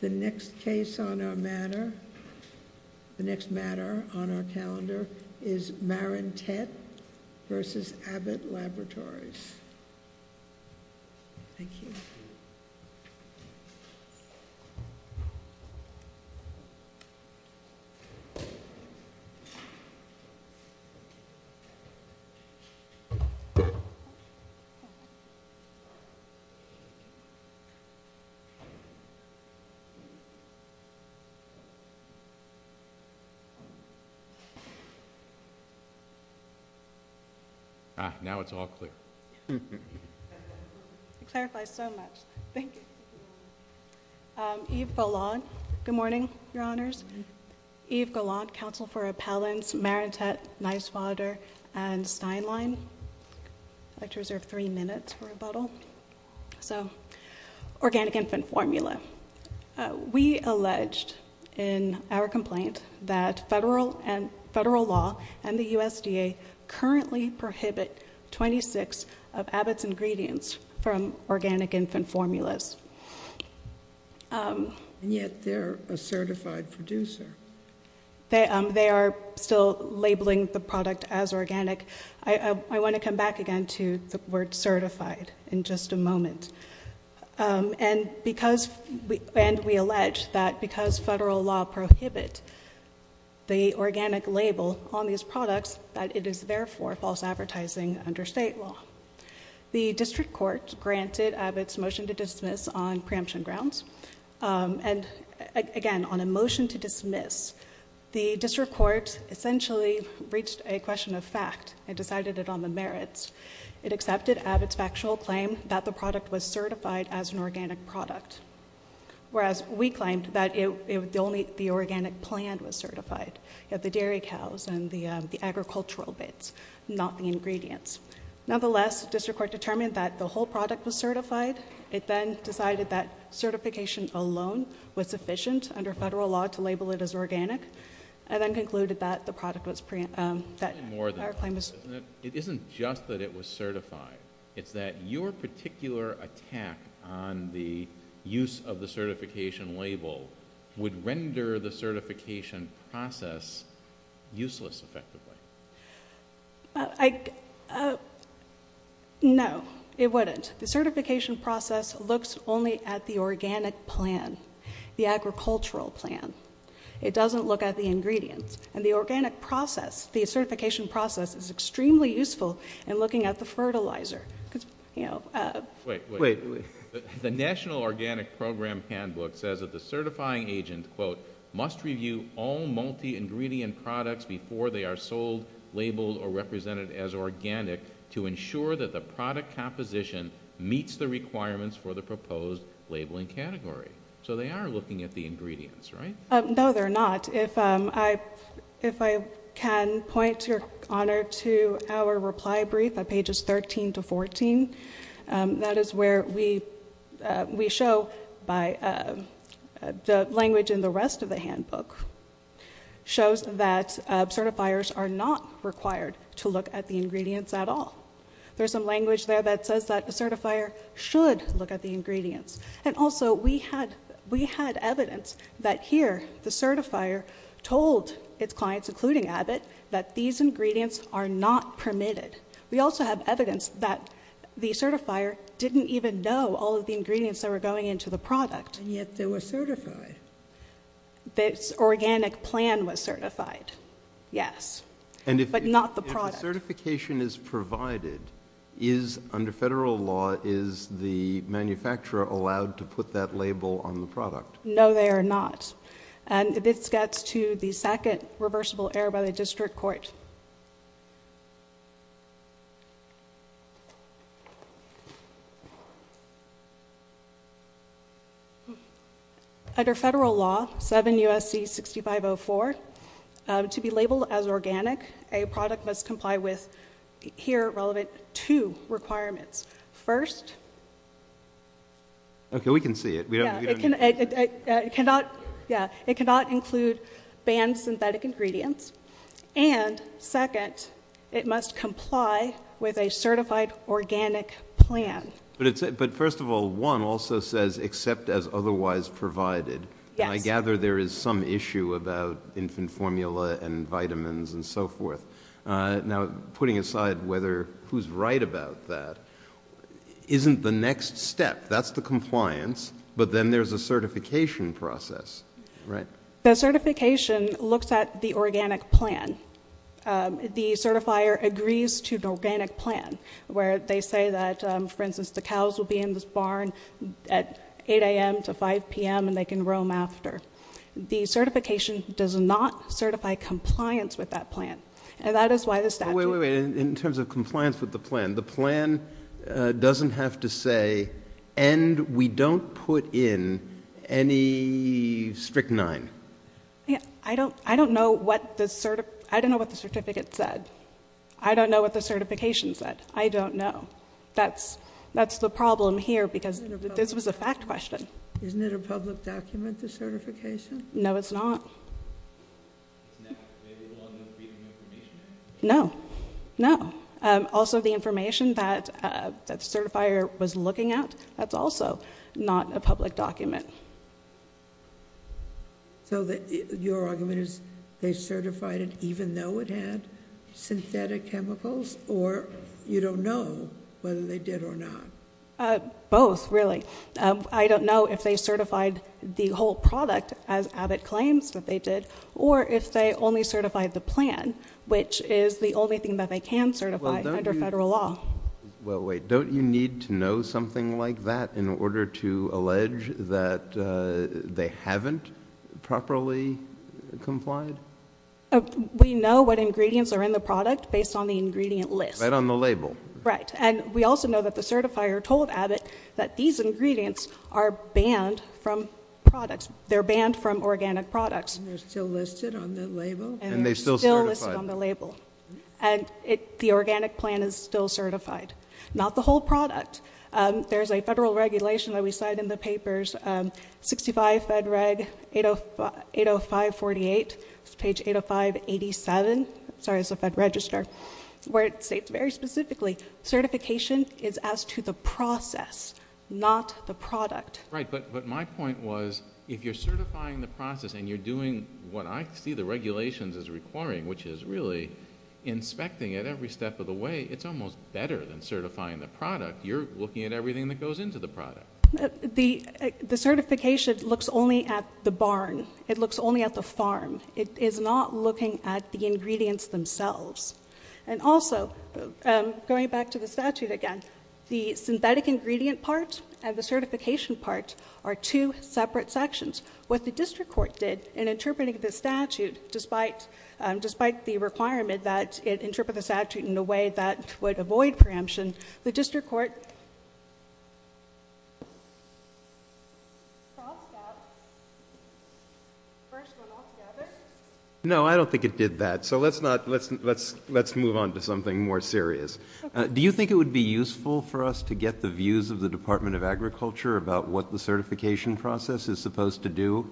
The next case on our matter, the next matter on our calendar is Marentette v. Abbott Laboratories. Thank you. Ah, now it's all clear. It clarifies so much. Thank you. Eve Goland. Good morning, Your Honors. Eve Goland, Counsel for Appellants, Marentette, Niswader, and Steinlein. I'd like to reserve three minutes for rebuttal. So, organic infant formula. We alleged in our complaint that federal law and the USDA currently prohibit 26 of Abbott's ingredients from organic infant formulas. And yet they're a certified producer. They are still labeling the product as organic. I want to come back again to the word certified in just a moment. And we allege that because federal law prohibit the organic label on these products, that it is therefore false advertising under state law. The district court granted Abbott's motion to dismiss on preemption grounds. And again, on a motion to dismiss, the district court essentially reached a question of fact and decided it on the merits. It accepted Abbott's factual claim that the product was certified as an organic product. Whereas we claimed that only the organic plant was certified, yet the dairy cows and the agricultural bits, not the ingredients. Nonetheless, district court determined that the whole product was certified. It then decided that certification alone was sufficient under federal law to label it as organic. And then concluded that the product was preemptive. It isn't just that it was certified. It's that your particular attack on the use of the certification label would render the certification process useless effectively. No, it wouldn't. The certification process looks only at the organic plant, the agricultural plant. It doesn't look at the ingredients. And the organic process, the certification process is extremely useful in looking at the fertilizer. Wait, wait. The National Organic Program Handbook says that the certifying agent, quote, must review all multi-ingredient products before they are sold, labeled, or represented as organic to ensure that the product composition meets the requirements for the proposed labeling category. So they are looking at the ingredients, right? No, they're not. And if I can point, Your Honor, to our reply brief at pages 13 to 14, that is where we show by the language in the rest of the handbook, shows that certifiers are not required to look at the ingredients at all. There's some language there that says that the certifier should look at the ingredients. And also we had evidence that here the certifier told its clients, including Abbott, that these ingredients are not permitted. We also have evidence that the certifier didn't even know all of the ingredients that were going into the product. And yet they were certified. This organic plant was certified, yes, but not the product. When certification is provided, is, under federal law, is the manufacturer allowed to put that label on the product? No, they are not. And this gets to the second reversible error by the district court. Under federal law, 7 U.S.C. 6504, to be labeled as organic, a product must comply with here relevant two requirements. First, it cannot include banned synthetic ingredients. And second, it must comply with a certified organic plant. But first of all, one also says except as otherwise provided. And I gather there is some issue about infant formula and vitamins and so forth. Now, putting aside whether who's right about that, isn't the next step. That's the compliance. But then there's a certification process, right? The certification looks at the organic plant. The certifier agrees to the organic plant where they say that, for instance, the cows will be in this barn at 8 a.m. to 5 p.m. and they can roam after. The certification does not certify compliance with that plant. And that is why the statute. Wait, wait, wait. In terms of compliance with the plan, the plan doesn't have to say, and we don't put in any strict nine. I don't know what the certificate said. I don't know what the certification said. I don't know. That's the problem here, because this was a fact question. Isn't it a public document, the certification? No, it's not. It's not? Maybe a little under the Freedom of Information Act? No. No. Also, the information that the certifier was looking at, that's also not a public document. So your argument is they certified it even though it had synthetic chemicals or you don't know whether they did or not? Both, really. I don't know if they certified the whole product, as Abbott claims that they did, or if they only certified the plan, which is the only thing that they can certify under federal law. Well, wait, don't you need to know something like that in order to allege that they haven't properly complied? We know what ingredients are in the product based on the ingredient list. Right on the label. Right. And we also know that the certifier told Abbott that these ingredients are banned from products. They're banned from organic products. And they're still listed on the label? And they're still listed on the label. And the organic plan is still certified. Not the whole product. There's a federal regulation that we cite in the papers, 65 Fed Reg 80548, page 805-87. Sorry, it's the Fed Register, where it states very specifically, certification is as to the process, not the product. Right, but my point was if you're certifying the process and you're doing what I see the regulations as requiring, which is really inspecting it every step of the way, it's almost better than certifying the product. You're looking at everything that goes into the product. The certification looks only at the barn. It looks only at the farm. It is not looking at the ingredients themselves. And also, going back to the statute again, the synthetic ingredient part and the certification part are two separate sections. What the district court did in interpreting the statute, despite the requirement that it interpret the statute in a way that would avoid preemption, the district court crossed out the first one altogether. No, I don't think it did that. So let's move on to something more serious. Do you think it would be useful for us to get the views of the Department of Agriculture about what the certification process is supposed to do?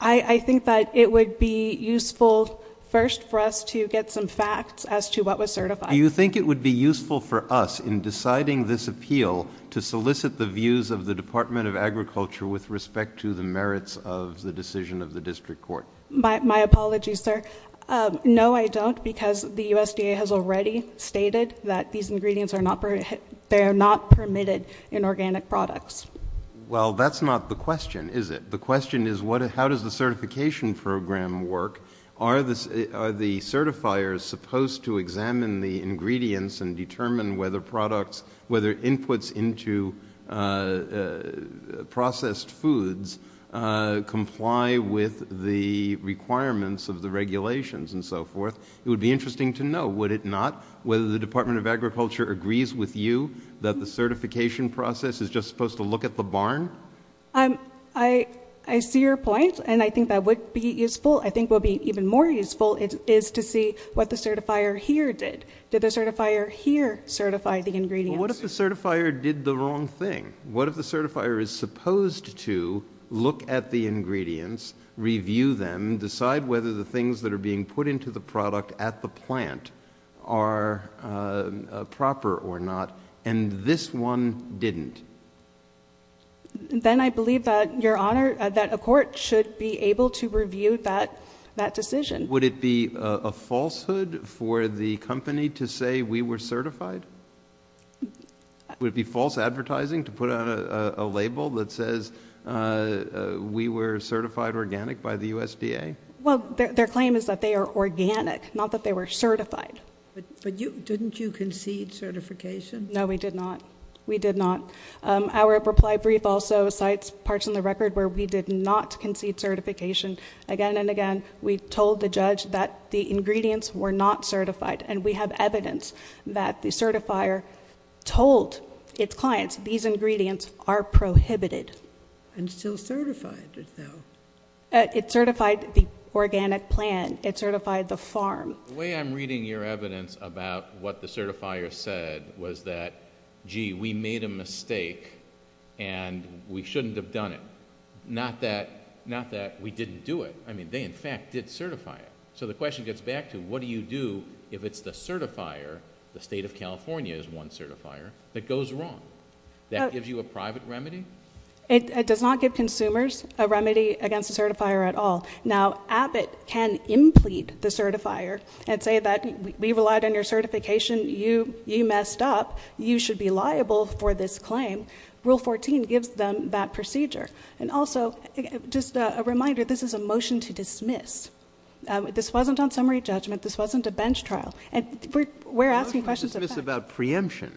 I think that it would be useful first for us to get some facts as to what was certified. Do you think it would be useful for us in deciding this appeal to solicit the views of the Department of Agriculture with respect to the merits of the decision of the district court? My apologies, sir. No, I don't, because the USDA has already stated that these ingredients are not permitted in organic products. Well, that's not the question, is it? The question is how does the certification program work? Are the certifiers supposed to examine the ingredients and determine whether inputs into processed foods comply with the requirements of the regulations and so forth? It would be interesting to know, would it not, whether the Department of Agriculture agrees with you that the certification process is just supposed to look at the barn? I see your point, and I think that would be useful. I think what would be even more useful is to see what the certifier here did. Did the certifier here certify the ingredients? Well, what if the certifier did the wrong thing? What if the certifier is supposed to look at the ingredients, review them, decide whether the things that are being put into the product at the plant are proper or not, and this one didn't? Then I believe that, Your Honor, that a court should be able to review that decision. Would it be a falsehood for the company to say we were certified? Would it be false advertising to put out a label that says we were certified organic by the USDA? Well, their claim is that they are organic, not that they were certified. But didn't you concede certification? No, we did not. We did not. Our reply brief also cites parts in the record where we did not concede certification. Again and again, we told the judge that the ingredients were not certified, and we have evidence that the certifier told its clients these ingredients are prohibited. And still certified it, though. It certified the organic plant. It certified the farm. The way I'm reading your evidence about what the certifier said was that, gee, we made a mistake and we shouldn't have done it. Not that we didn't do it. I mean, they, in fact, did certify it. So the question gets back to what do you do if it's the certifier, the state of California is one certifier, that goes wrong? That gives you a private remedy? It does not give consumers a remedy against the certifier at all. Now, Abbott can implead the certifier and say that we relied on your certification. You messed up. You should be liable for this claim. Rule 14 gives them that procedure. And also, just a reminder, this is a motion to dismiss. This wasn't on summary judgment. This wasn't a bench trial. And we're asking questions of facts. It's about preemption,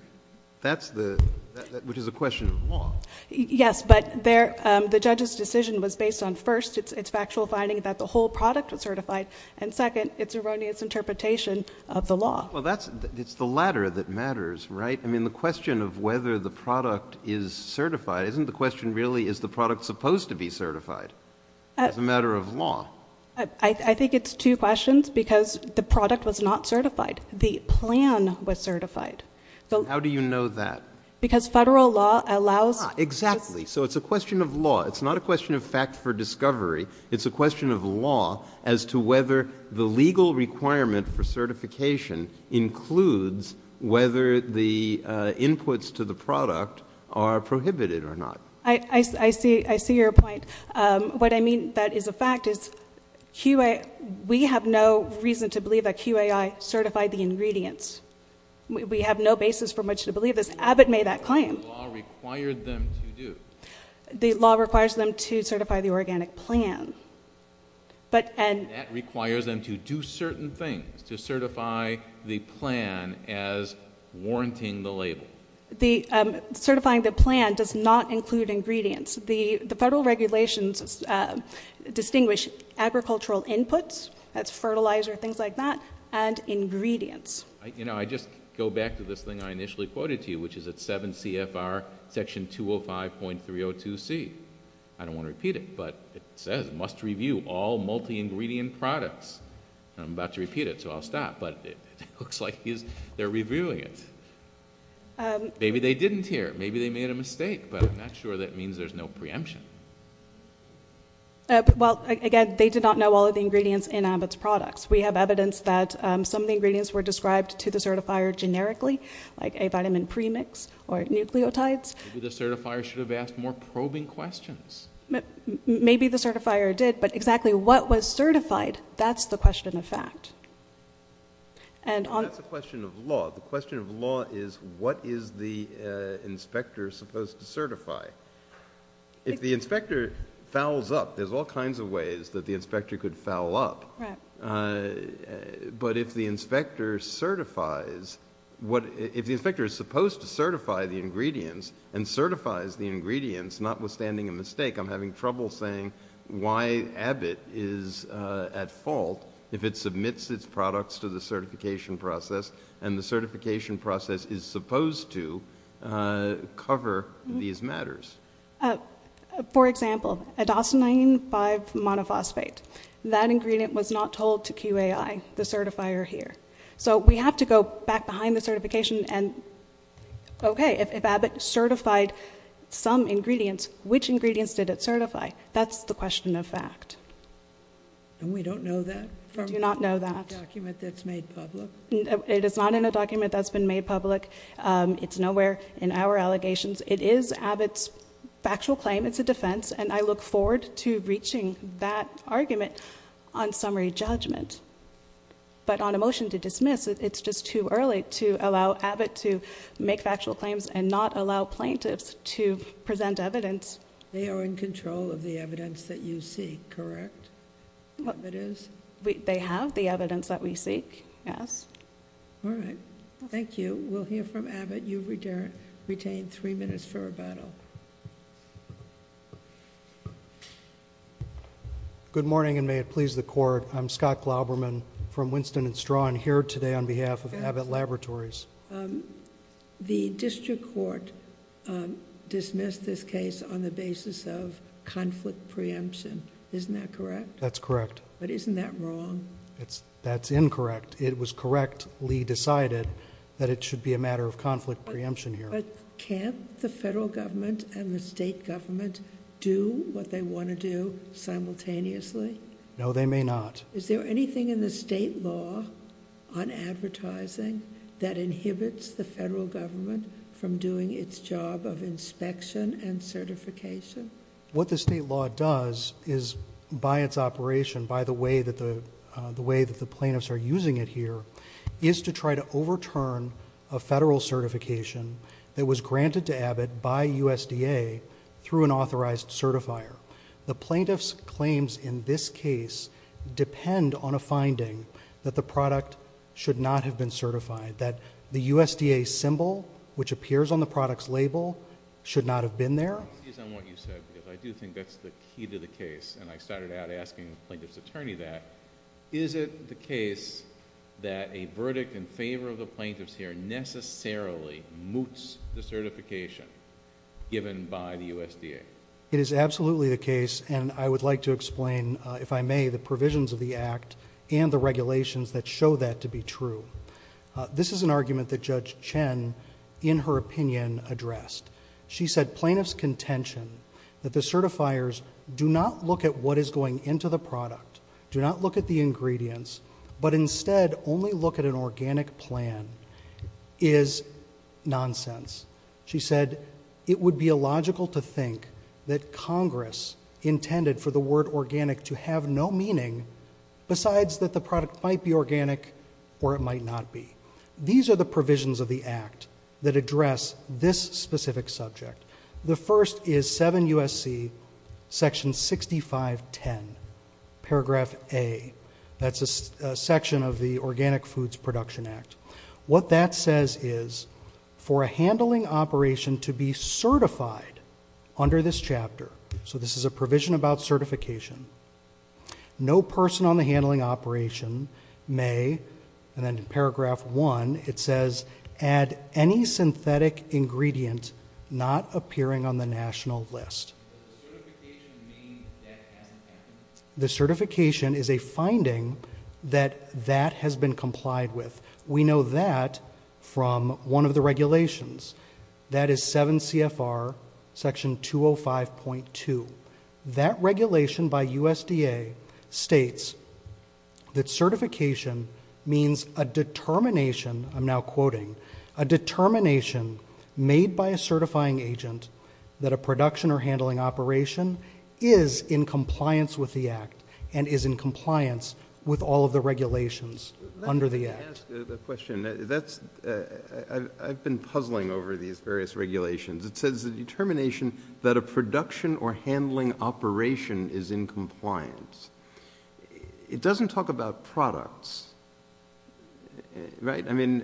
which is a question of law. Yes, but the judge's decision was based on, first, it's factual finding that the whole product was certified, and, second, it's erroneous interpretation of the law. Well, it's the latter that matters, right? I mean, the question of whether the product is certified, isn't the question really is the product supposed to be certified as a matter of law? I think it's two questions because the product was not certified. The plan was certified. How do you know that? Because federal law allows. Exactly. So it's a question of law. It's not a question of fact for discovery. It's a question of law as to whether the legal requirement for certification includes whether the inputs to the product are prohibited or not. I see your point. What I mean that is a fact is we have no reason to believe that QAI certified the ingredients. We have no basis for much to believe this. Abbott made that claim. The law required them to do. The law requires them to certify the organic plan. That requires them to do certain things, to certify the plan as warranting the label. Certifying the plan does not include ingredients. The federal regulations distinguish agricultural inputs, that's fertilizer, things like that, and ingredients. I just go back to this thing I initially quoted to you, which is at 7 CFR section 205.302C. I don't want to repeat it, but it says must review all multi-ingredient products. I'm about to repeat it, so I'll stop, but it looks like they're reviewing it. Maybe they didn't here. Maybe they made a mistake, but I'm not sure that means there's no preemption. Well, again, they did not know all of the ingredients in Abbott's products. We have evidence that some of the ingredients were described to the certifier generically, like A vitamin premix or nucleotides. Maybe the certifier should have asked more probing questions. Maybe the certifier did, but exactly what was certified, that's the question of fact. That's a question of law. The question of law is what is the inspector supposed to certify? If the inspector fouls up, there's all kinds of ways that the inspector could foul up. But if the inspector certifies, if the inspector is supposed to certify the ingredients and certifies the ingredients, notwithstanding a mistake, I'm having trouble saying why Abbott is at fault if it submits its products to the certification process and the certification process is supposed to cover these matters. For example, adosinine 5-monophosphate, that ingredient was not told to QAI, the certifier here. So we have to go back behind the certification and, okay, if Abbott certified some ingredients, which ingredients did it certify? That's the question of fact. And we don't know that? We do not know that. From a document that's made public? It is not in a document that's been made public. It's nowhere in our allegations. It is Abbott's factual claim. It's a defense, and I look forward to reaching that argument on summary judgment. But on a motion to dismiss, it's just too early to allow Abbott to make factual claims and not allow plaintiffs to present evidence. They are in control of the evidence that you seek, correct? Abbott is? They have the evidence that we seek, yes. All right. Thank you. We'll hear from Abbott. Mr. Abbott, you've retained three minutes for rebuttal. Good morning, and may it please the Court. I'm Scott Glauberman from Winston & Strawn here today on behalf of Abbott Laboratories. The district court dismissed this case on the basis of conflict preemption. Isn't that correct? That's correct. But isn't that wrong? That's incorrect. It was correctly decided that it should be a matter of conflict preemption here. But can't the federal government and the state government do what they want to do simultaneously? No, they may not. Is there anything in the state law on advertising that inhibits the federal government from doing its job of inspection and certification? What the state law does is, by its operation, by the way that the plaintiffs are using it here, is to try to overturn a federal certification that was granted to Abbott by USDA through an authorized certifier. The plaintiffs' claims in this case depend on a finding that the product should not have been certified, that the USDA symbol, which appears on the product's label, should not have been there. I want to seize on what you said because I do think that's the key to the case, and I started out asking the plaintiff's attorney that. Is it the case that a verdict in favor of the plaintiffs here necessarily moots the certification given by the USDA? It is absolutely the case, and I would like to explain, if I may, the provisions of the Act and the regulations that show that to be true. This is an argument that Judge Chen, in her opinion, addressed. She said plaintiffs' contention that the certifiers do not look at what is going into the product, do not look at the ingredients, but instead only look at an organic plan is nonsense. She said it would be illogical to think that Congress intended for the word organic to have no meaning besides that the product might be organic or it might not be. These are the provisions of the Act that address this specific subject. The first is 7 U.S.C. section 6510, paragraph A. That's a section of the Organic Foods Production Act. What that says is for a handling operation to be certified under this chapter, so this is a provision about certification, no person on the handling operation may, and then in paragraph 1 it says, add any synthetic ingredient not appearing on the national list. Does the certification mean that hasn't happened? The certification is a finding that that has been complied with. We know that from one of the regulations. That is 7 CFR section 205.2. That regulation by USDA states that certification means a determination, I'm now quoting, a determination made by a certifying agent that a production or handling operation is in compliance with the Act and is in compliance with all of the regulations under the Act. Let me ask a question. I've been puzzling over these various regulations. It says a determination that a production or handling operation is in compliance. It doesn't talk about products, right? I mean,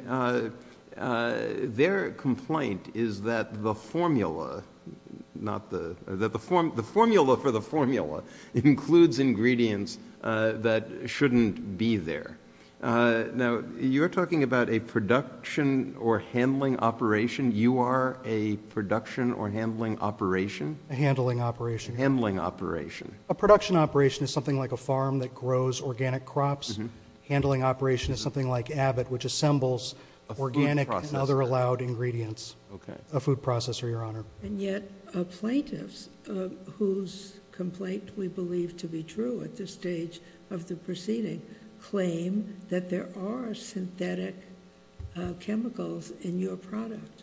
their complaint is that the formula for the formula includes ingredients that shouldn't be there. Now, you're talking about a production or handling operation. You are a production or handling operation? A handling operation. Handling operation. A production operation is something like a farm that grows organic crops. Handling operation is something like Abbott, which assembles organic and other allowed ingredients. Okay. A food processor, Your Honor. And yet plaintiffs, whose complaint we believe to be true at this stage of the proceeding, claim that there are synthetic chemicals in your product.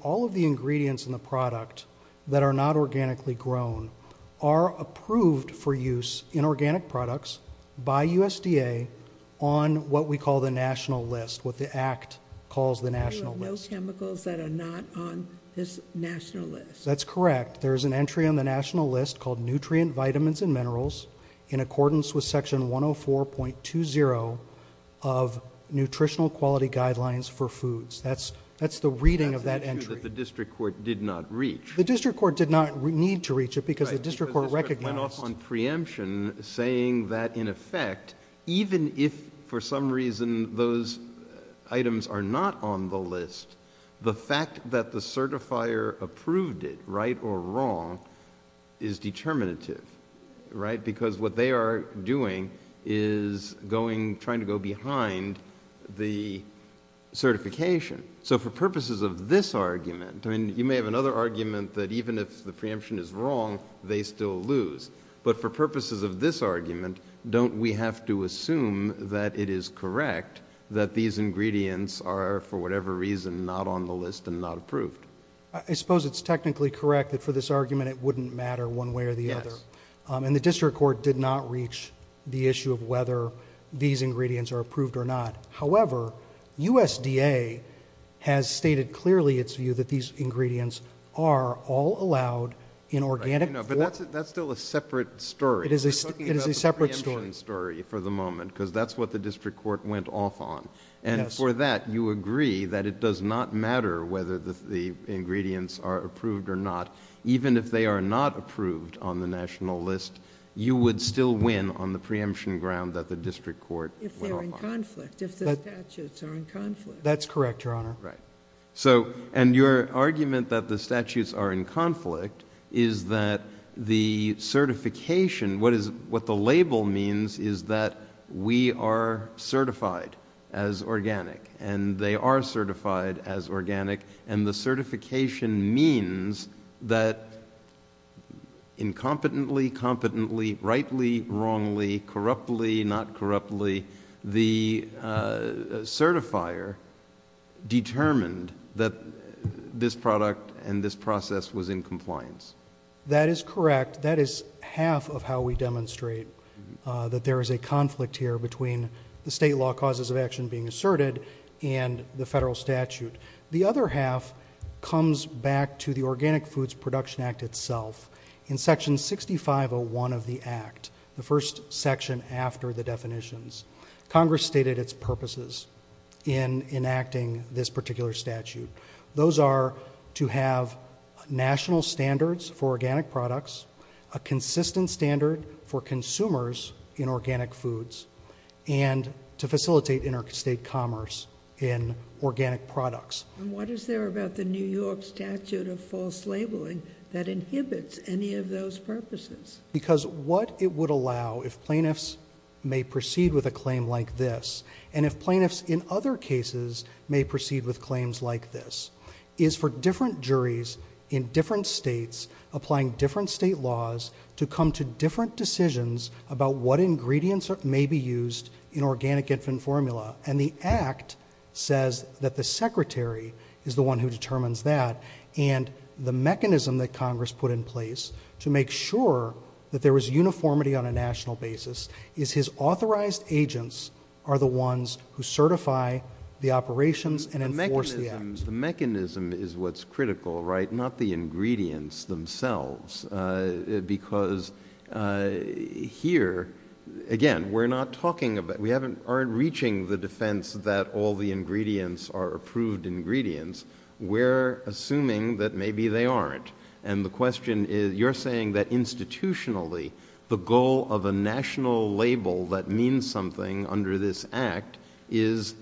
All of the ingredients in the product that are not organically grown are approved for use in organic products by USDA on what we call the national list, what the Act calls the national list. There are no chemicals that are not on this national list. That's correct. There is an entry on the national list called nutrient vitamins and minerals in accordance with section 104.20 of nutritional quality guidelines for foods. That's the reading of that entry. That's an issue that the district court did not reach. The district court did not need to reach it because the district court recognized... Right, because the district went off on preemption saying that in effect, even if for some reason those items are not on the list, the fact that the certifier approved it, right or wrong, is determinative, right? Because what they are doing is trying to go behind the certification. So for purposes of this argument... I mean, you may have another argument that even if the preemption is wrong, they still lose. But for purposes of this argument, don't we have to assume that it is correct that these ingredients are, for whatever reason, not on the list and not approved? I suppose it's technically correct that for this argument it wouldn't matter one way or the other. Yes. And the district court did not reach the issue of whether these ingredients are approved or not. However, USDA has stated clearly its view that these ingredients are all allowed in organic... But that's still a separate story. It is a separate story. We're talking about the preemption story for the moment because that's what the district court went off on. And for that, you agree that it does not matter whether the ingredients are approved or not, even if they are not approved on the national list, you would still win on the preemption ground that the district court went off on. If they're in conflict, if the statutes are in conflict. That's correct, Your Honor. Right. And your argument that the statutes are in conflict is that the certification... What the label means is that we are certified as organic. And they are certified as organic. And the certification means that incompetently, competently, rightly, wrongly, corruptly, not corruptly, the certifier determined that this product and this process was in compliance. That is correct. That is half of how we demonstrate that there is a conflict here between the state law causes of action being asserted and the federal statute. The other half comes back to the Organic Foods Production Act itself. In Section 6501 of the Act, the first section after the definitions, Congress stated its purposes in enacting this particular statute. Those are to have national standards for organic products, a consistent standard for consumers in organic foods, and to facilitate interstate commerce in organic products. And what is there about the New York Statute of False Labeling that inhibits any of those purposes? Because what it would allow if plaintiffs may proceed with a claim like this, and if plaintiffs in other cases may proceed with claims like this, is for different juries in different states applying different state laws to come to different decisions about what ingredients may be used in organic infant formula. And the Act says that the secretary is the one who determines that. And the mechanism that Congress put in place to make sure that there was uniformity on a national basis is his authorized agents are the ones who certify the operations and enforce the Act. The mechanism is what's critical, right, not the ingredients themselves. Because here, again, we're not talking about, we aren't reaching the defense that all the ingredients are approved ingredients. We're assuming that maybe they aren't. And the question is, you're saying that institutionally, the goal of a national label that means something under this Act is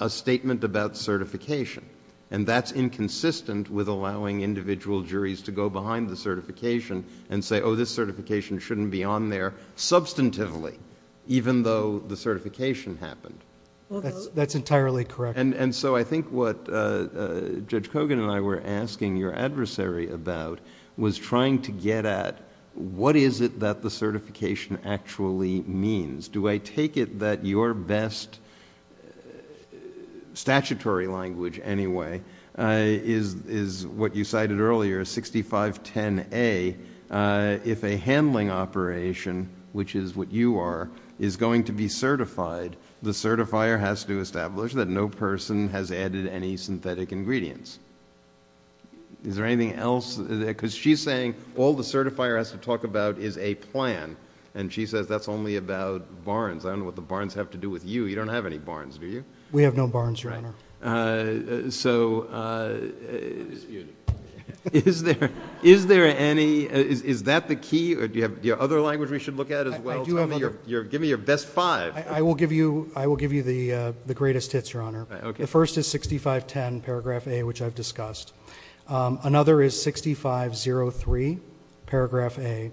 a statement about certification. And that's inconsistent with allowing individual juries to go behind the certification and say, oh, this certification shouldn't be on there substantively, even though the certification happened. That's entirely correct. And so I think what Judge Kogan and I were asking your adversary about was trying to get at what is it that the certification actually means. Do I take it that your best statutory language anyway is what you cited earlier, 6510A, if a handling operation, which is what you are, is going to be certified, the certifier has to establish that no person has added any synthetic ingredients. Is there anything else? Because she's saying all the certifier has to talk about is a plan. And she says that's only about Barnes. I don't know what the Barnes have to do with you. You don't have any Barnes, do you? We have no Barnes, Your Honor. So is there any? Is that the key? Do you have other language we should look at as well? Give me your best five. I will give you the greatest hits, Your Honor. The first is 6510 paragraph A, which I've discussed. Another is 6503 paragraph A,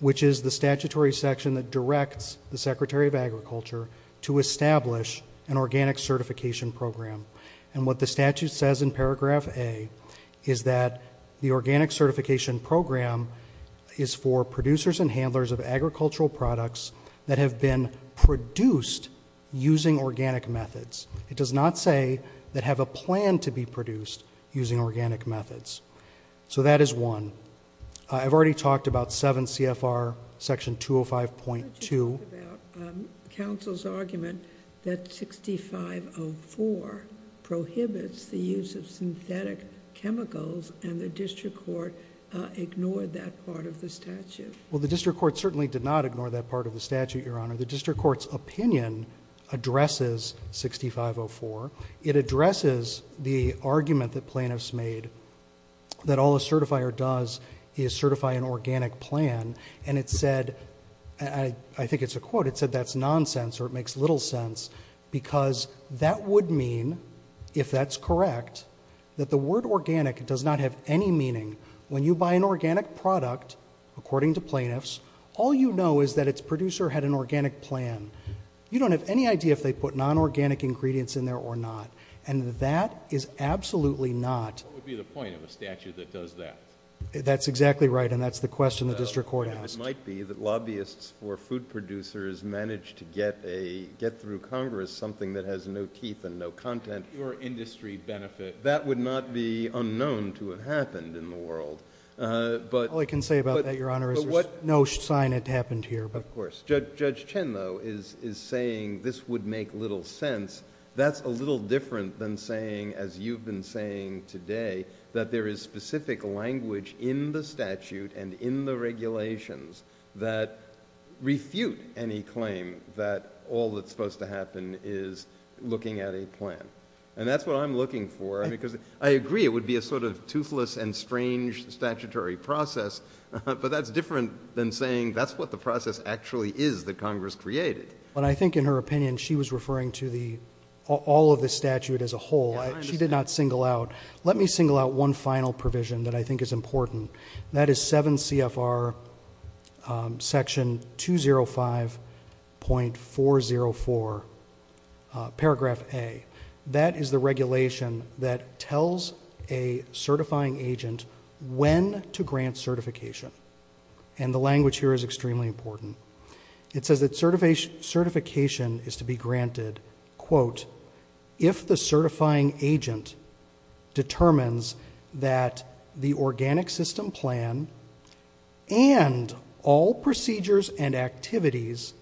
which is the statutory section that directs the Secretary of Agriculture to establish an organic certification program. And what the statute says in paragraph A is that the organic certification program is for producers and handlers of agricultural products that have been produced using organic methods. It does not say that have a plan to be produced using organic methods. So that is one. I've already talked about 7 CFR section 205.2. Could you talk about counsel's argument that 6504 prohibits the use of synthetic chemicals and the district court ignored that part of the statute? Well, the district court certainly did not ignore that part of the statute, Your Honor. The district court's opinion addresses 6504. It addresses the argument that plaintiffs made that all a certifier does is certify an organic plan. And it said, I think it's a quote, it said that's nonsense or it makes little sense because that would mean, if that's correct, that the word organic does not have any meaning. When you buy an organic product, according to plaintiffs, all you know is that its producer had an organic plan. You don't have any idea if they put non-organic ingredients in there or not. And that is absolutely not. What would be the point of a statute that does that? That's exactly right, and that's the question the district court asked. It might be that lobbyists for food producers managed to get through Congress something that has no teeth and no content. Pure industry benefit. That would not be unknown to have happened in the world. All I can say about that, Your Honor, is there's no sign it happened here. Of course. Judge Chen, though, is saying this would make little sense. That's a little different than saying, as you've been saying today, that there is specific language in the statute and in the regulations that refute any claim that all that's supposed to happen is looking at a plan. And that's what I'm looking for. I agree it would be a sort of toothless and strange statutory process, but that's different than saying that's what the process actually is that Congress created. I think in her opinion she was referring to all of the statute as a whole. She did not single out. Let me single out one final provision that I think is important. That is 7 CFR Section 205.404, Paragraph A. That is the regulation that tells a certifying agent when to grant certification. And the language here is extremely important. It says that certification is to be granted, quote, if the certifying agent determines that the organic system plan and all procedures and activities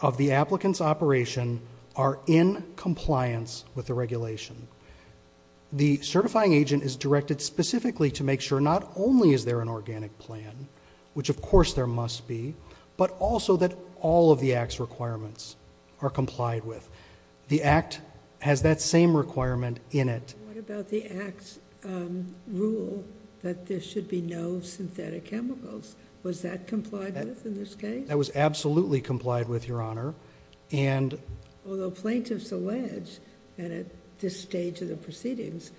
of the applicant's operation are in compliance with the regulation. The certifying agent is directed specifically to make sure not only is there an organic plan, which, of course, there must be, but also that all of the Act's requirements are complied with. The Act has that same requirement in it. What about the Act's rule that there should be no synthetic chemicals? Was that complied with in this case? That was absolutely complied with, Your Honor. Although plaintiffs allege, and at this stage of the proceedings,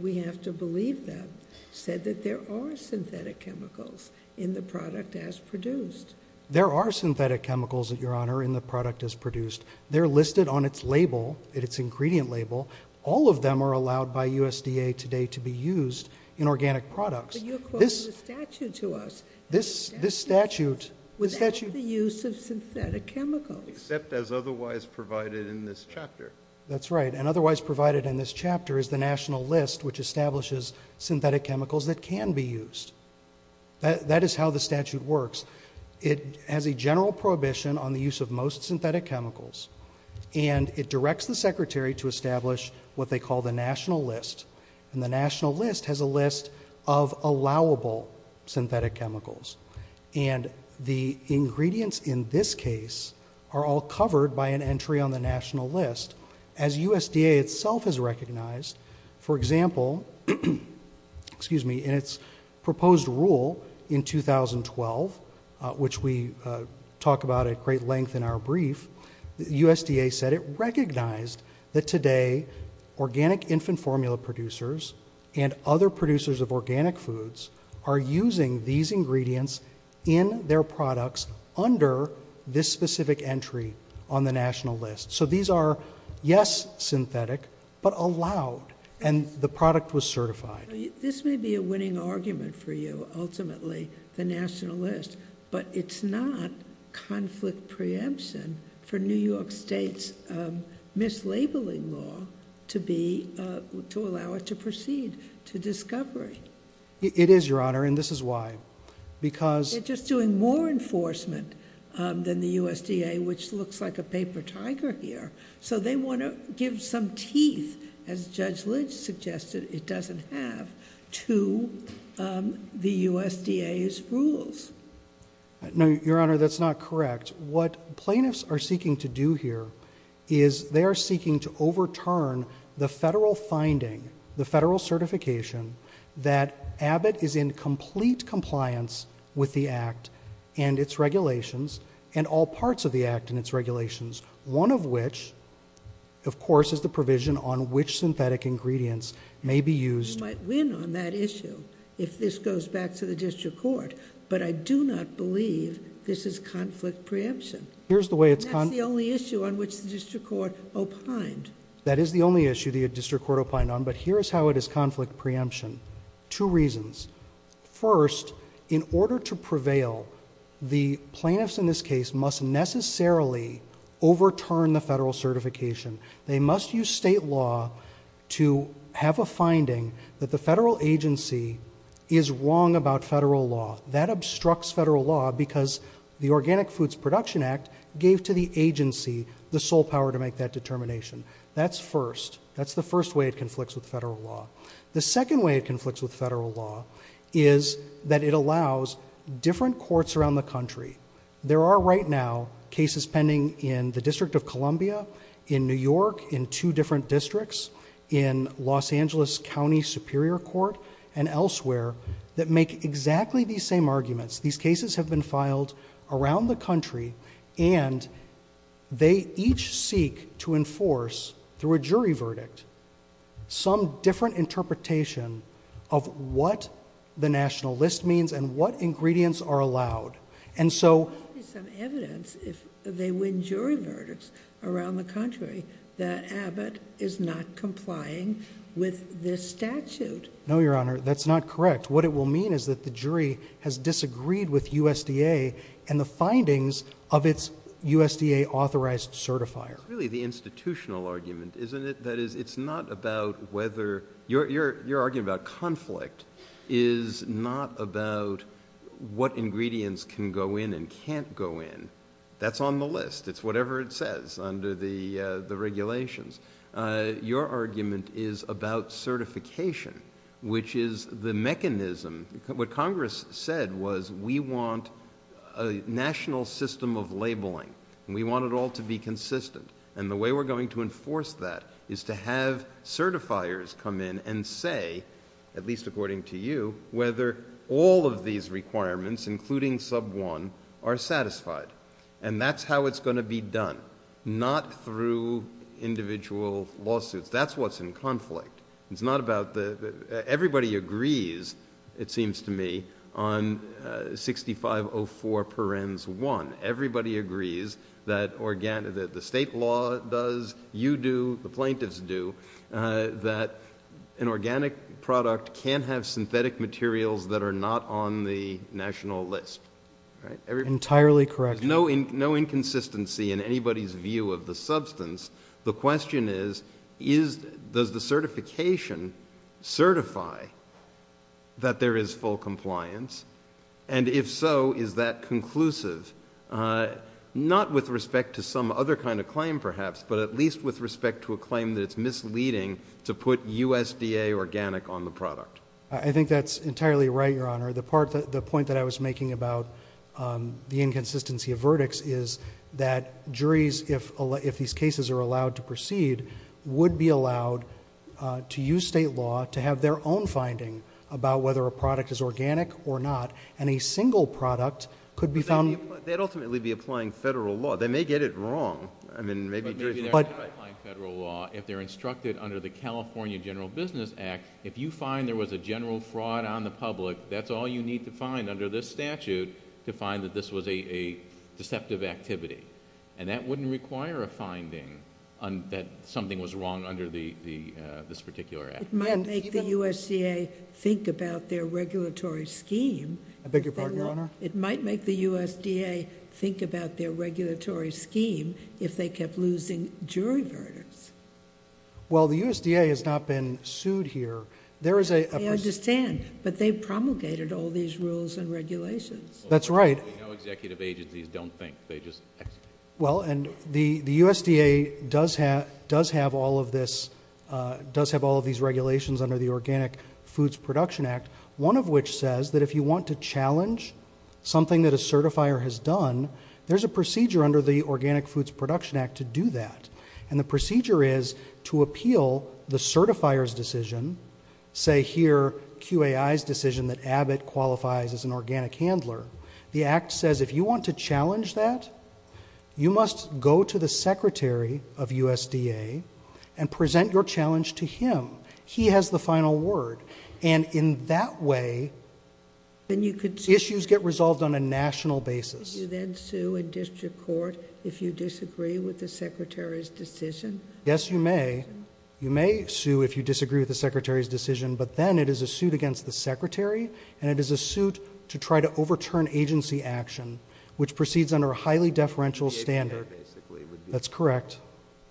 we have to believe them, said that there are synthetic chemicals in the product as produced. There are synthetic chemicals, Your Honor, in the product as produced. They're listed on its label, its ingredient label. All of them are allowed by USDA today to be used in organic products. But you're quoting the statute to us. This statute... Without the use of synthetic chemicals. Except as otherwise provided in this chapter. That's right. And otherwise provided in this chapter is the National List, which establishes synthetic chemicals that can be used. That is how the statute works. It has a general prohibition on the use of most synthetic chemicals, and it directs the Secretary to establish what they call the National List. And the National List has a list of allowable synthetic chemicals. And the ingredients in this case are all covered by an entry on the National List. As USDA itself has recognized, for example, in its proposed rule in 2012, which we talk about at great length in our brief, USDA said it recognized that today organic infant formula producers and other producers of organic foods are using these ingredients in their products under this specific entry on the National List. So these are, yes, synthetic, but allowed. And the product was certified. This may be a winning argument for you, ultimately, the National List, but it's not conflict preemption for New York State's mislabeling law to allow it to proceed to discovery. It is, Your Honor, and this is why. They're just doing more enforcement than the USDA, which looks like a paper tiger here. So they want to give some teeth, as Judge Lynch suggested it doesn't have, to the USDA's rules. No, Your Honor, that's not correct. What plaintiffs are seeking to do here is they are seeking to overturn the federal finding, the federal certification, that Abbott is in complete compliance with the Act and its regulations and all parts of the Act and its regulations, one of which, of course, is the provision on which synthetic ingredients may be used. You might win on that issue if this goes back to the district court, but I do not believe this is conflict preemption. That's the only issue on which the district court opined. That is the only issue the district court opined on, but here is how it is conflict preemption. Two reasons. First, in order to prevail, the plaintiffs in this case must necessarily overturn the federal certification. They must use state law to have a finding that the federal agency is wrong about federal law. That obstructs federal law because the Organic Foods Production Act gave to the agency the sole power to make that determination. That's first. That's the first way it conflicts with federal law. The second way it conflicts with federal law is that it allows different courts around the country. There are right now cases pending in the District of Columbia, in New York, in two different districts, in Los Angeles County Superior Court and elsewhere that make exactly these same arguments. These cases have been filed around the country, and they each seek to enforce, through a jury verdict, some different interpretation of what the national list means and what ingredients are allowed. And so... There might be some evidence, if they win jury verdicts around the country, that Abbott is not complying with this statute. No, Your Honor, that's not correct. What it will mean is that the jury has disagreed with USDA and the findings of its USDA-authorized certifier. It's really the institutional argument, isn't it? That is, it's not about whether... Your argument about conflict is not about what ingredients can go in and can't go in. That's on the list. It's whatever it says under the regulations. Your argument is about certification, which is the mechanism. What Congress said was we want a national system of labeling, and we want it all to be consistent. And the way we're going to enforce that is to have certifiers come in and say, at least according to you, whether all of these requirements, including sub 1, are satisfied. And that's how it's going to be done, not through individual lawsuits. That's what's in conflict. It's not about the... Everybody agrees, it seems to me, on 6504 parens 1. Everybody agrees that the state law does, you do, the plaintiffs do, that an organic product can't have synthetic materials that are not on the national list. Entirely correct. There's no inconsistency in anybody's view of the substance. The question is, does the certification certify that there is full compliance? And if so, is that conclusive? Not with respect to some other kind of claim, perhaps, but at least with respect to a claim that it's misleading to put USDA organic on the product. I think that's entirely right, Your Honor. The point that I was making about the inconsistency of verdicts is that juries, if these cases are allowed to proceed, would be allowed to use state law to have their own finding about whether a product is organic or not, and a single product could be found... But they'd ultimately be applying federal law. They may get it wrong. Maybe they're applying federal law if they're instructed under the California General Business Act, if you find there was a general fraud on the public, that's all you need to find under this statute to find that this was a deceptive activity. And that wouldn't require a finding that something was wrong under this particular act. It might make the USDA think about their regulatory scheme. I beg your pardon, Your Honor? It might make the USDA think about their regulatory scheme if they kept losing jury verdicts. Well, the USDA has not been sued here. I understand, but they promulgated all these rules and regulations. That's right. No executive agencies don't think. Well, and the USDA does have all of these regulations under the Organic Foods Production Act, one of which says that if you want to challenge something that a certifier has done, there's a procedure under the Organic Foods Production Act to do that. And the procedure is to appeal the certifier's decision, say here QAI's decision that Abbott qualifies as an organic handler. The act says if you want to challenge that, you must go to the secretary of USDA and present your challenge to him. He has the final word. And in that way, issues get resolved on a national basis. Could you then sue in district court if you disagree with the secretary's decision? Yes, you may. You may sue if you disagree with the secretary's decision, but then it is a suit against the secretary, and it is a suit to try to overturn agency action, which proceeds under a highly deferential standard. That's correct.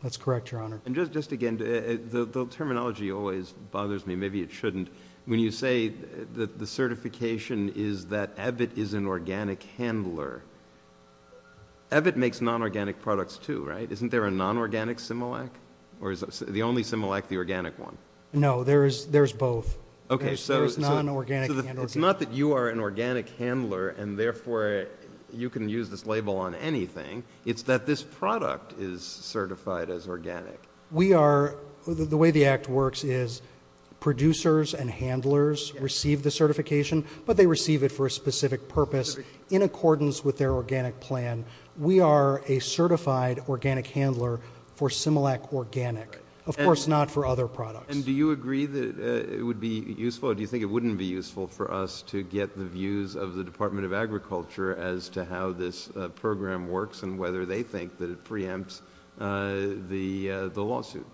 That's correct, Your Honor. And just again, the terminology always bothers me. Maybe it shouldn't. When you say that the certification is that Abbott is an organic handler, Abbott makes non-organic products too, right? Isn't there a non-organic Similac? Or is the only Similac the organic one? No, there's both. Okay, so it's not that you are an organic handler and therefore you can use this label on anything. It's that this product is certified as organic. The way the act works is producers and handlers receive the certification, but they receive it for a specific purpose. In accordance with their organic plan, we are a certified organic handler for Similac organic. Of course not for other products. And do you agree that it would be useful or do you think it wouldn't be useful for us to get the views of the Department of Agriculture as to how this program works and whether they think that it preempts the lawsuit?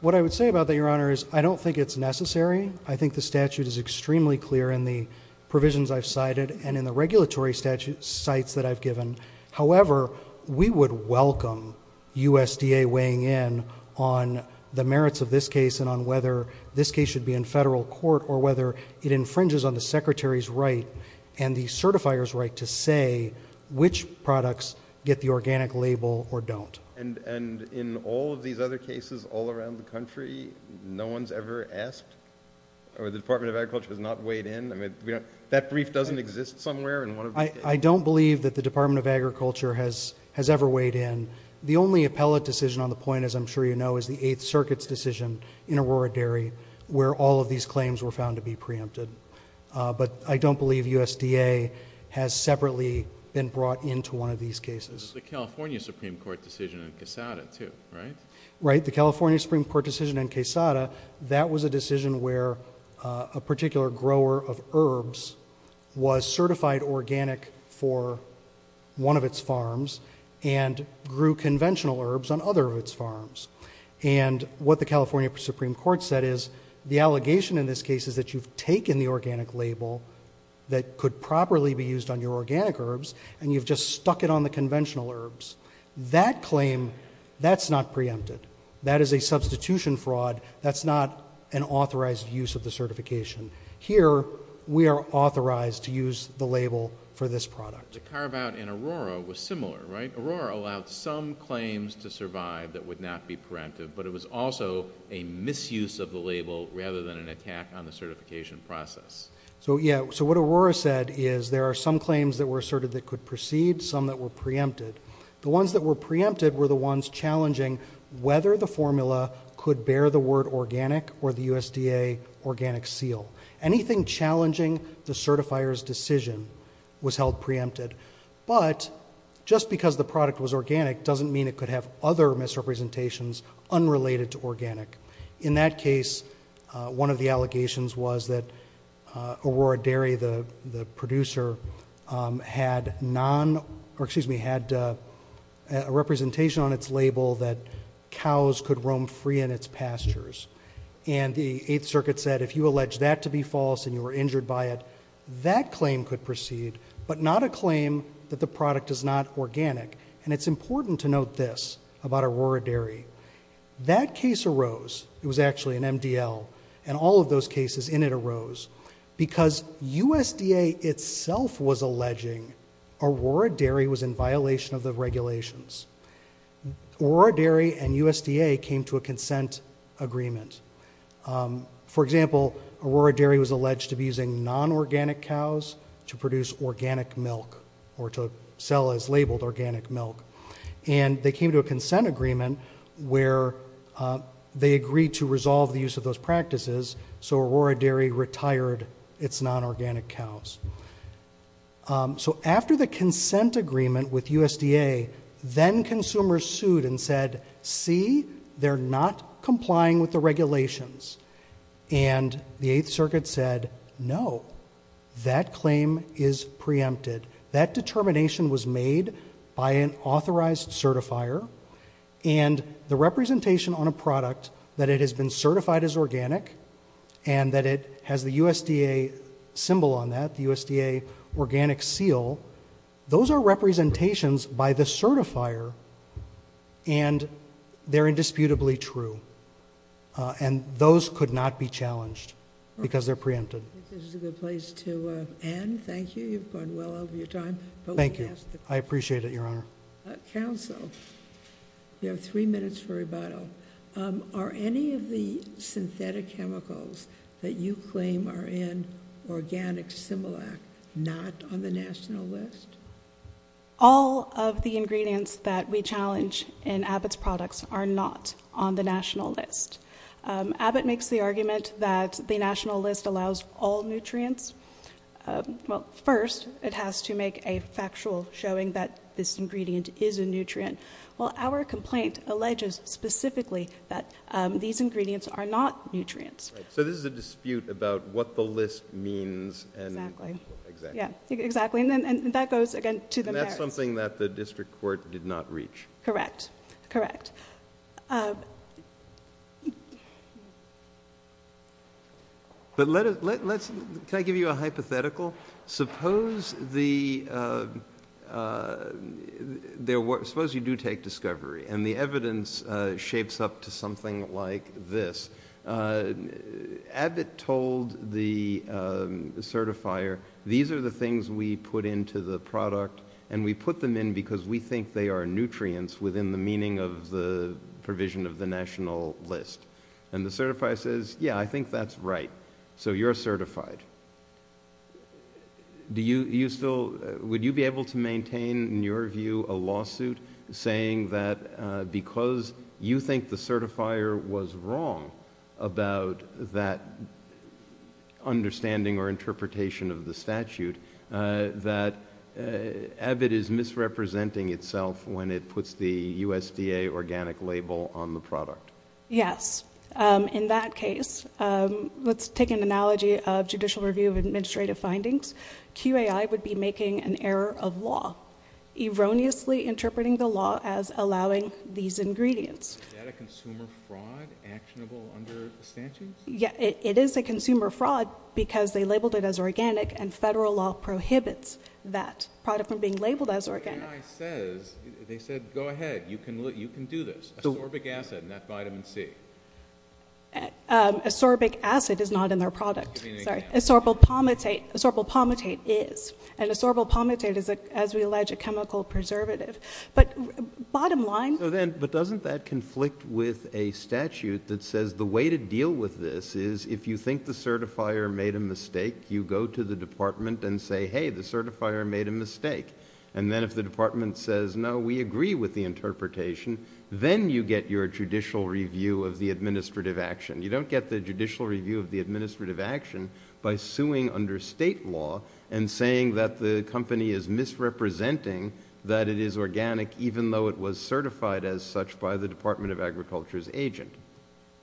What I would say about that, Your Honor, is I don't think it's necessary. I think the statute is extremely clear in the provisions I've cited and in the regulatory sites that I've given. However, we would welcome USDA weighing in on the merits of this case and on whether this case should be in federal court or whether it infringes on the Secretary's right and the certifier's right to say which products get the organic label or don't. And in all of these other cases all around the country, no one's ever asked or the Department of Agriculture has not weighed in? That brief doesn't exist somewhere? I don't believe that the Department of Agriculture has ever weighed in. The only appellate decision on the point, as I'm sure you know, is the Eighth Circuit's decision in Aurora Dairy where all of these claims were found to be preempted. But I don't believe USDA has separately been brought into one of these cases. There's the California Supreme Court decision in Quesada too, right? Right. The California Supreme Court decision in Quesada, that was a decision where a particular grower of herbs was certified organic for one of its farms and grew conventional herbs on other of its farms. And what the California Supreme Court said is the allegation in this case is that you've taken the organic label that could properly be used on your organic herbs and you've just stuck it on the conventional herbs. That claim, that's not preempted. That is a substitution fraud. That's not an authorized use of the certification. Here we are authorized to use the label for this product. The carve-out in Aurora was similar, right? Aurora allowed some claims to survive that would not be preempted, but it was also a misuse of the label rather than an attack on the certification process. So what Aurora said is there are some claims that were asserted that could proceed, some that were preempted. The ones that were preempted were the ones challenging whether the formula could bear the word organic or the USDA organic seal. Anything challenging the certifier's decision was held preempted. But just because the product was organic doesn't mean it could have other misrepresentations unrelated to organic. In that case, one of the allegations was that Aurora Dairy, the producer, had a representation on its label that cows could roam free in its pastures. And the Eighth Circuit said if you allege that to be false and you were injured by it, that claim could proceed, but not a claim that the product is not organic. And it's important to note this about Aurora Dairy. That case arose. It was actually an MDL, and all of those cases in it arose because USDA itself was alleging Aurora Dairy was in violation of the regulations. Aurora Dairy and USDA came to a consent agreement. For example, Aurora Dairy was alleged to be using non-organic cows to produce organic milk or to sell as labeled organic milk, and they came to a consent agreement where they agreed to resolve the use of those practices so Aurora Dairy retired its non-organic cows. So after the consent agreement with USDA, then consumers sued and said, see, they're not complying with the regulations. And the Eighth Circuit said, no, that claim is preempted. That determination was made by an authorized certifier, and the representation on a product that it has been certified as organic and that it has the USDA symbol on that, the USDA organic seal, those are representations by the certifier, and they're indisputably true. And those could not be challenged because they're preempted. This is a good place to end. Thank you. You've gone well over your time. Thank you. I appreciate it, Your Honor. Counsel, you have three minutes for rebuttal. Are any of the synthetic chemicals that you claim are in organic Similac not on the national list? All of the ingredients that we challenge in Abbott's products are not on the national list. Abbott makes the argument that the national list allows all nutrients. Well, first, it has to make a factual showing that this ingredient is a nutrient. Well, our complaint alleges specifically that these ingredients are not nutrients. So this is a dispute about what the list means and... Exactly. Exactly. And that goes, again, to the merits. And that's something that the district court did not reach. Correct. Correct. But let's... can I give you a hypothetical? Suppose the... suppose you do take discovery, and the evidence shapes up to something like this. Abbott told the certifier, these are the things we put into the product, and we put them in because we think they are nutrients within the meaning of the provision of the national list. And the certifier says, yeah, I think that's right. So you're certified. Do you still... would you be able to maintain, in your view, a lawsuit saying that because you think the certifier was wrong about that understanding or interpretation of the statute, that Abbott is misrepresenting itself when it puts the USDA organic label on the product? Yes. In that case, let's take an analogy of judicial review of administrative findings. QAI would be making an error of law, erroneously interpreting the law as allowing these ingredients. Is that a consumer fraud actionable under the statutes? Yeah, it is a consumer fraud because they labeled it as organic, and federal law prohibits that product from being labeled as organic. QAI says, they said, go ahead, you can do this. Ascorbic acid, not vitamin C. Ascorbic acid is not in their product. Sorry. Ascorbyl palmitate is. And ascorbyl palmitate is, as we allege, a chemical preservative. But bottom line... But doesn't that conflict with a statute that says the way to deal with this is if you think the certifier made a mistake, you go to the department and say, hey, the certifier made a mistake. And then if the department says, no, we agree with the interpretation, then you get your judicial review of the administrative action. You don't get the judicial review of the administrative action by suing under state law and saying that the company is misrepresenting that it is organic even though it was certified as such by the Department of Agriculture's agent.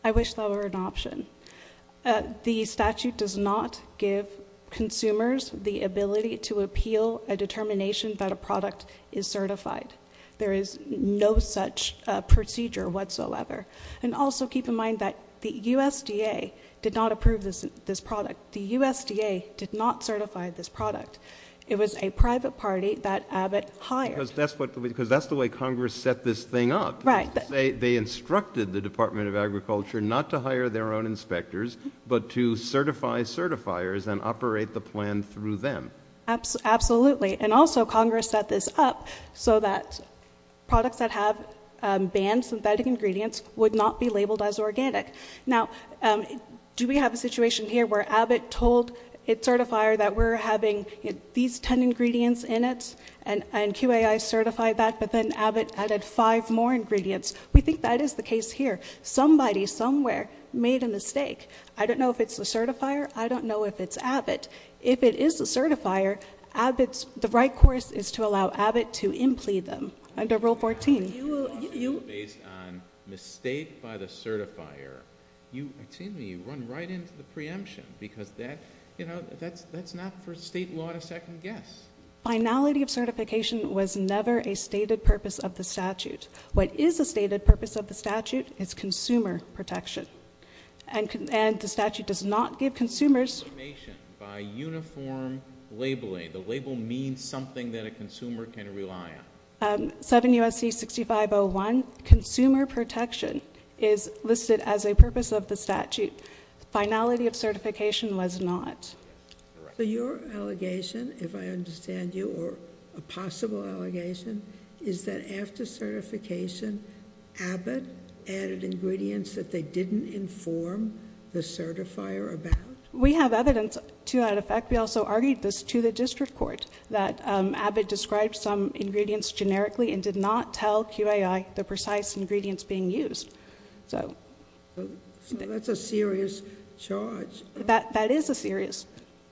I wish that were an option. The statute does not give consumers the ability to appeal a determination that a product is certified. There is no such procedure whatsoever. And also keep in mind that the USDA did not approve this product. The USDA did not certify this product. It was a private party that Abbott hired. Because that's the way Congress set this thing up. Right. They instructed the Department of Agriculture not to hire their own inspectors but to certify certifiers and operate the plan through them. Absolutely. And also Congress set this up so that products that have banned synthetic ingredients would not be labeled as organic. Now, do we have a situation here where Abbott told its certifier that we're having these 10 ingredients in it and QAI certified that but then Abbott added five more ingredients? We think that is the case here. Somebody somewhere made a mistake. I don't know if it's the certifier. I don't know if it's Abbott. If it is the certifier, the right course is to allow Abbott to implead them under Rule 14. Based on mistake by the certifier, you run right into the preemption because that's not for state law to second guess. Finality of certification was never a stated purpose of the statute. What is a stated purpose of the statute is consumer protection. And the statute does not give consumers Information by uniform labeling. The label means something that a consumer can rely on. 7 U.S.C. 6501, consumer protection is listed as a purpose of the statute. Finality of certification was not. So your allegation, if I understand you, or a possible allegation, is that after certification, Abbott added ingredients that they didn't inform the certifier about? We have evidence to that effect. We also argued this to the district court, that Abbott described some ingredients generically and did not tell QAI the precise ingredients being used. So that's a serious charge. That is a serious charge.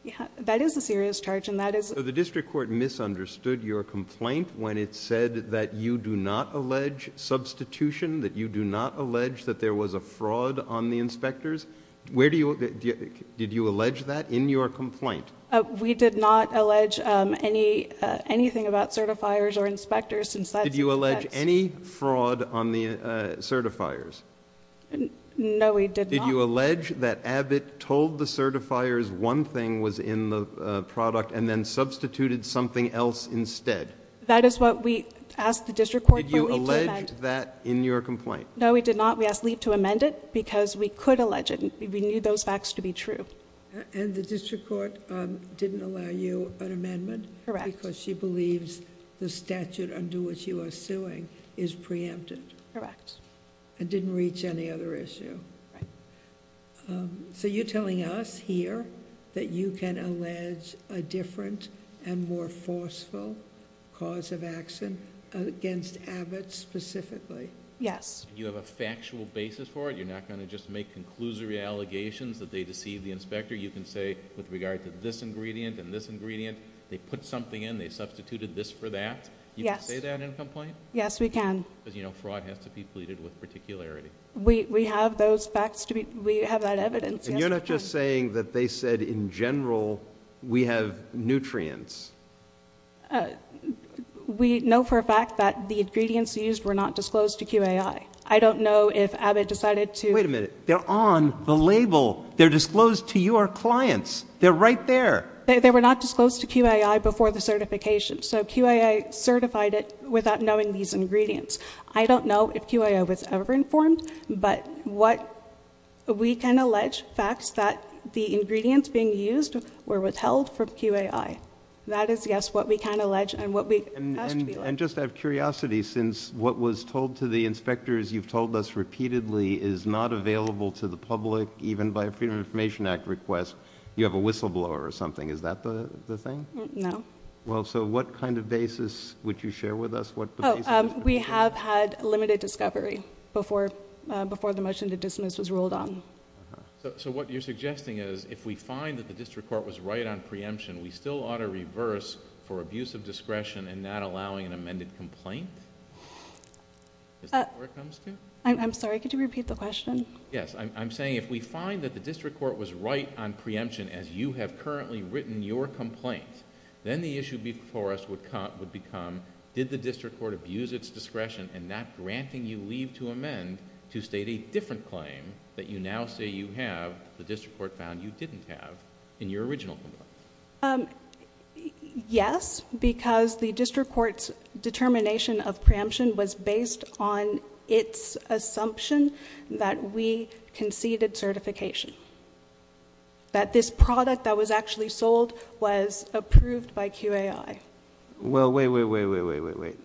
So the district court misunderstood your complaint when it said that you do not allege substitution, that you do not allege that there was a fraud on the inspectors? Did you allege that in your complaint? We did not allege anything about certifiers or inspectors. Did you allege any fraud on the certifiers? No, we did not. Did you allege that Abbott told the certifiers one thing was in the product and then substituted something else instead? That is what we asked the district court for leave to amend. Did you allege that in your complaint? No, we did not. We asked leave to amend it because we could allege it. We knew those facts to be true. And the district court didn't allow you an amendment? Correct. Because she believes the statute under which you are suing is preempted? Correct. I didn't reach any other issue. So you're telling us here that you can allege a different and more forceful cause of action against Abbott specifically? Yes. You have a factual basis for it? You're not going to just make conclusory allegations that they deceived the inspector? You can say with regard to this ingredient and this ingredient, they put something in, they substituted this for that? Yes. You can say that in a complaint? Yes, we can. Because you know fraud has to be pleaded with particularity. We have that evidence. And you're not just saying that they said in general we have nutrients? We know for a fact that the ingredients used were not disclosed to QAI. I don't know if Abbott decided to ---- Wait a minute. They're on the label. They're disclosed to your clients. They're right there. They were not disclosed to QAI before the certification. So QAI certified it without knowing these ingredients. I don't know if QAI was ever informed, but we can allege facts that the ingredients being used were withheld from QAI. That is, yes, what we can allege and what we have to allege. And just out of curiosity, since what was told to the inspectors you've told us repeatedly is not available to the public, even by a Freedom of Information Act request, you have a whistleblower or something. Is that the thing? No. Well, so what kind of basis would you share with us? We have had limited discovery before the motion to dismiss was ruled on. So what you're suggesting is if we find that the district court was right on preemption, we still ought to reverse for abuse of discretion and not allowing an amended complaint? Is that where it comes to? I'm sorry. Could you repeat the question? Yes. I'm saying if we find that the district court was right on preemption as you have currently written your complaint, then the issue before us would become, did the district court abuse its discretion in not granting you leave to amend to state a different claim that you now say you have, the district court found you didn't have in your original complaint? Yes, because the district court's determination of preemption was based on its assumption that we conceded certification, that this product that was actually sold was approved by QAI. Well, wait, wait, wait, wait, wait, wait, wait.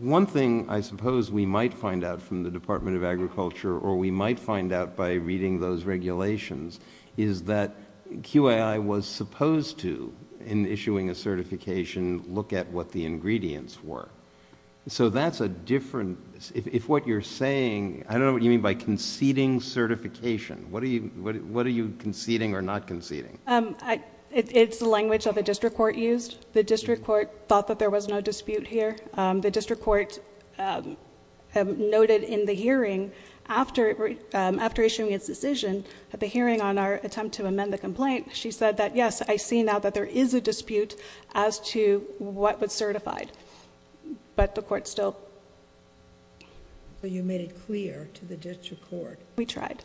One thing I suppose we might find out from the Department of Agriculture or we might find out by reading those regulations is that QAI was supposed to, in issuing a certification, look at what the ingredients were. So that's a different, if what you're saying, I don't know what you mean by conceding certification. What are you conceding or not conceding? It's the language that the district court used. The district court thought that there was no dispute here. The district court noted in the hearing after issuing its decision, at the hearing on our attempt to amend the complaint, she said that, yes, I see now that there is a dispute as to what was certified, but the court still... So you made it clear to the district court... We tried.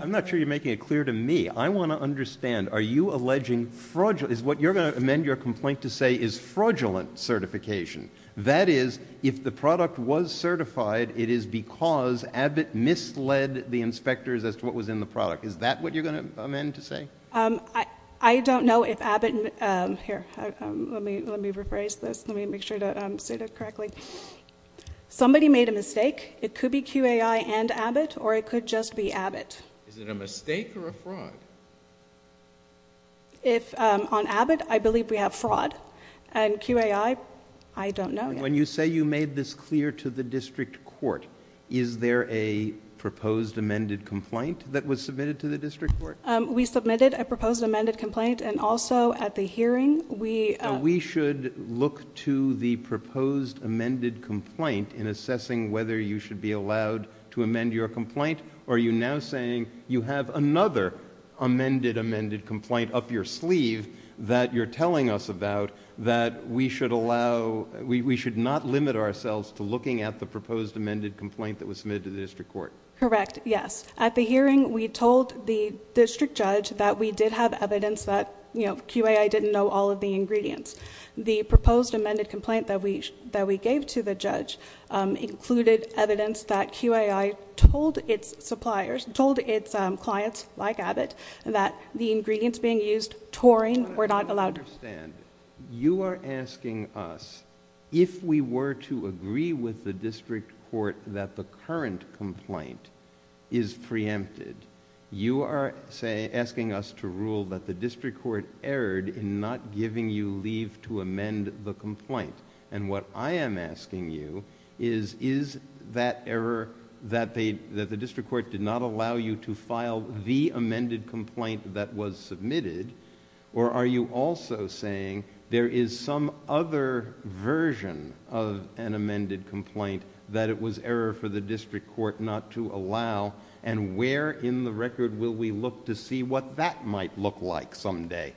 I'm not sure you're making it clear to me. I want to understand, are you alleging fraudulent... Is what you're going to amend your complaint to say is fraudulent certification? That is, if the product was certified, it is because Abbott misled the inspectors as to what was in the product. Is that what you're going to amend to say? I don't know if Abbott... Here, let me rephrase this. Let me make sure to say that correctly. Somebody made a mistake. It could be QAI and Abbott, or it could just be Abbott. Is it a mistake or a fraud? On Abbott, I believe we have fraud, and QAI, I don't know yet. When you say you made this clear to the district court, is there a proposed amended complaint that was submitted to the district court? We submitted a proposed amended complaint, and also at the hearing, we... in assessing whether you should be allowed to amend your complaint, are you now saying you have another amended amended complaint up your sleeve that you're telling us about that we should not limit ourselves to looking at the proposed amended complaint that was submitted to the district court? Correct, yes. At the hearing, we told the district judge that we did have evidence that QAI didn't know all of the ingredients. The proposed amended complaint that we gave to the judge included evidence that QAI told its suppliers, told its clients like Abbott, that the ingredients being used, taurine, were not allowed... I don't understand. You are asking us, if we were to agree with the district court that the current complaint is preempted, you are asking us to rule that the district court erred in not giving you leave to amend the complaint. What I am asking you is, is that error that the district court did not allow you to file the amended complaint that was submitted, or are you also saying there is some other version of an amended complaint that it was error for the district court not to allow, and where in the record will we look to see what that might look like someday?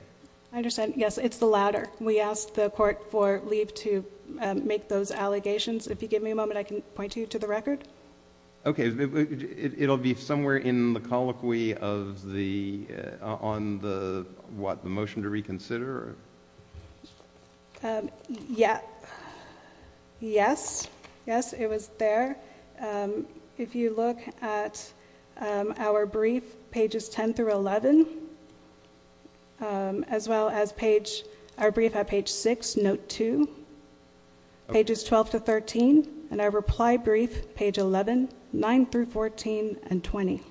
I understand. Yes, it's the latter. We asked the court for leave to make those allegations. If you give me a moment, I can point you to the record. Okay. It will be somewhere in the colloquy on the motion to reconsider? Yes, it was there. If you look at our brief, pages 10-11, as well as our brief at page 6, note 2, pages 12-13, and our reply brief, page 11, 9-14, and 20.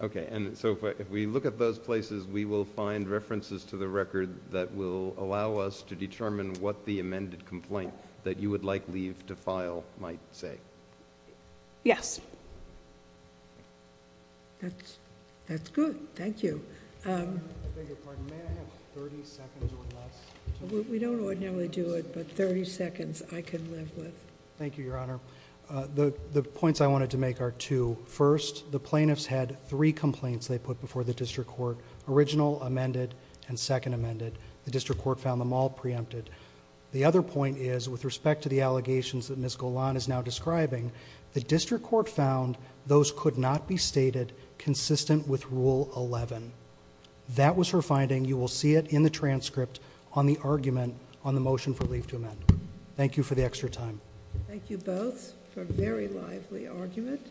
Okay. If we look at those places, we will find references to the record that will allow us to determine what the amended complaint that you would like leave to file might say. Yes. That's good. Thank you. I beg your pardon. May I have thirty seconds or less? We don't ordinarily do it, but thirty seconds I can live with. Thank you, Your Honor. The points I wanted to make are two. First, the plaintiffs had three complaints they put before the district court, original, amended, and second amended. The district court found them all preempted. The other point is, with respect to the allegations that Ms. Golan is now describing, the district court found those could not be stated consistent with Rule 11. That was her finding. You will see it in the transcript on the argument on the motion for leave to amend. Thank you for the extra time. Thank you both for a very lively argument.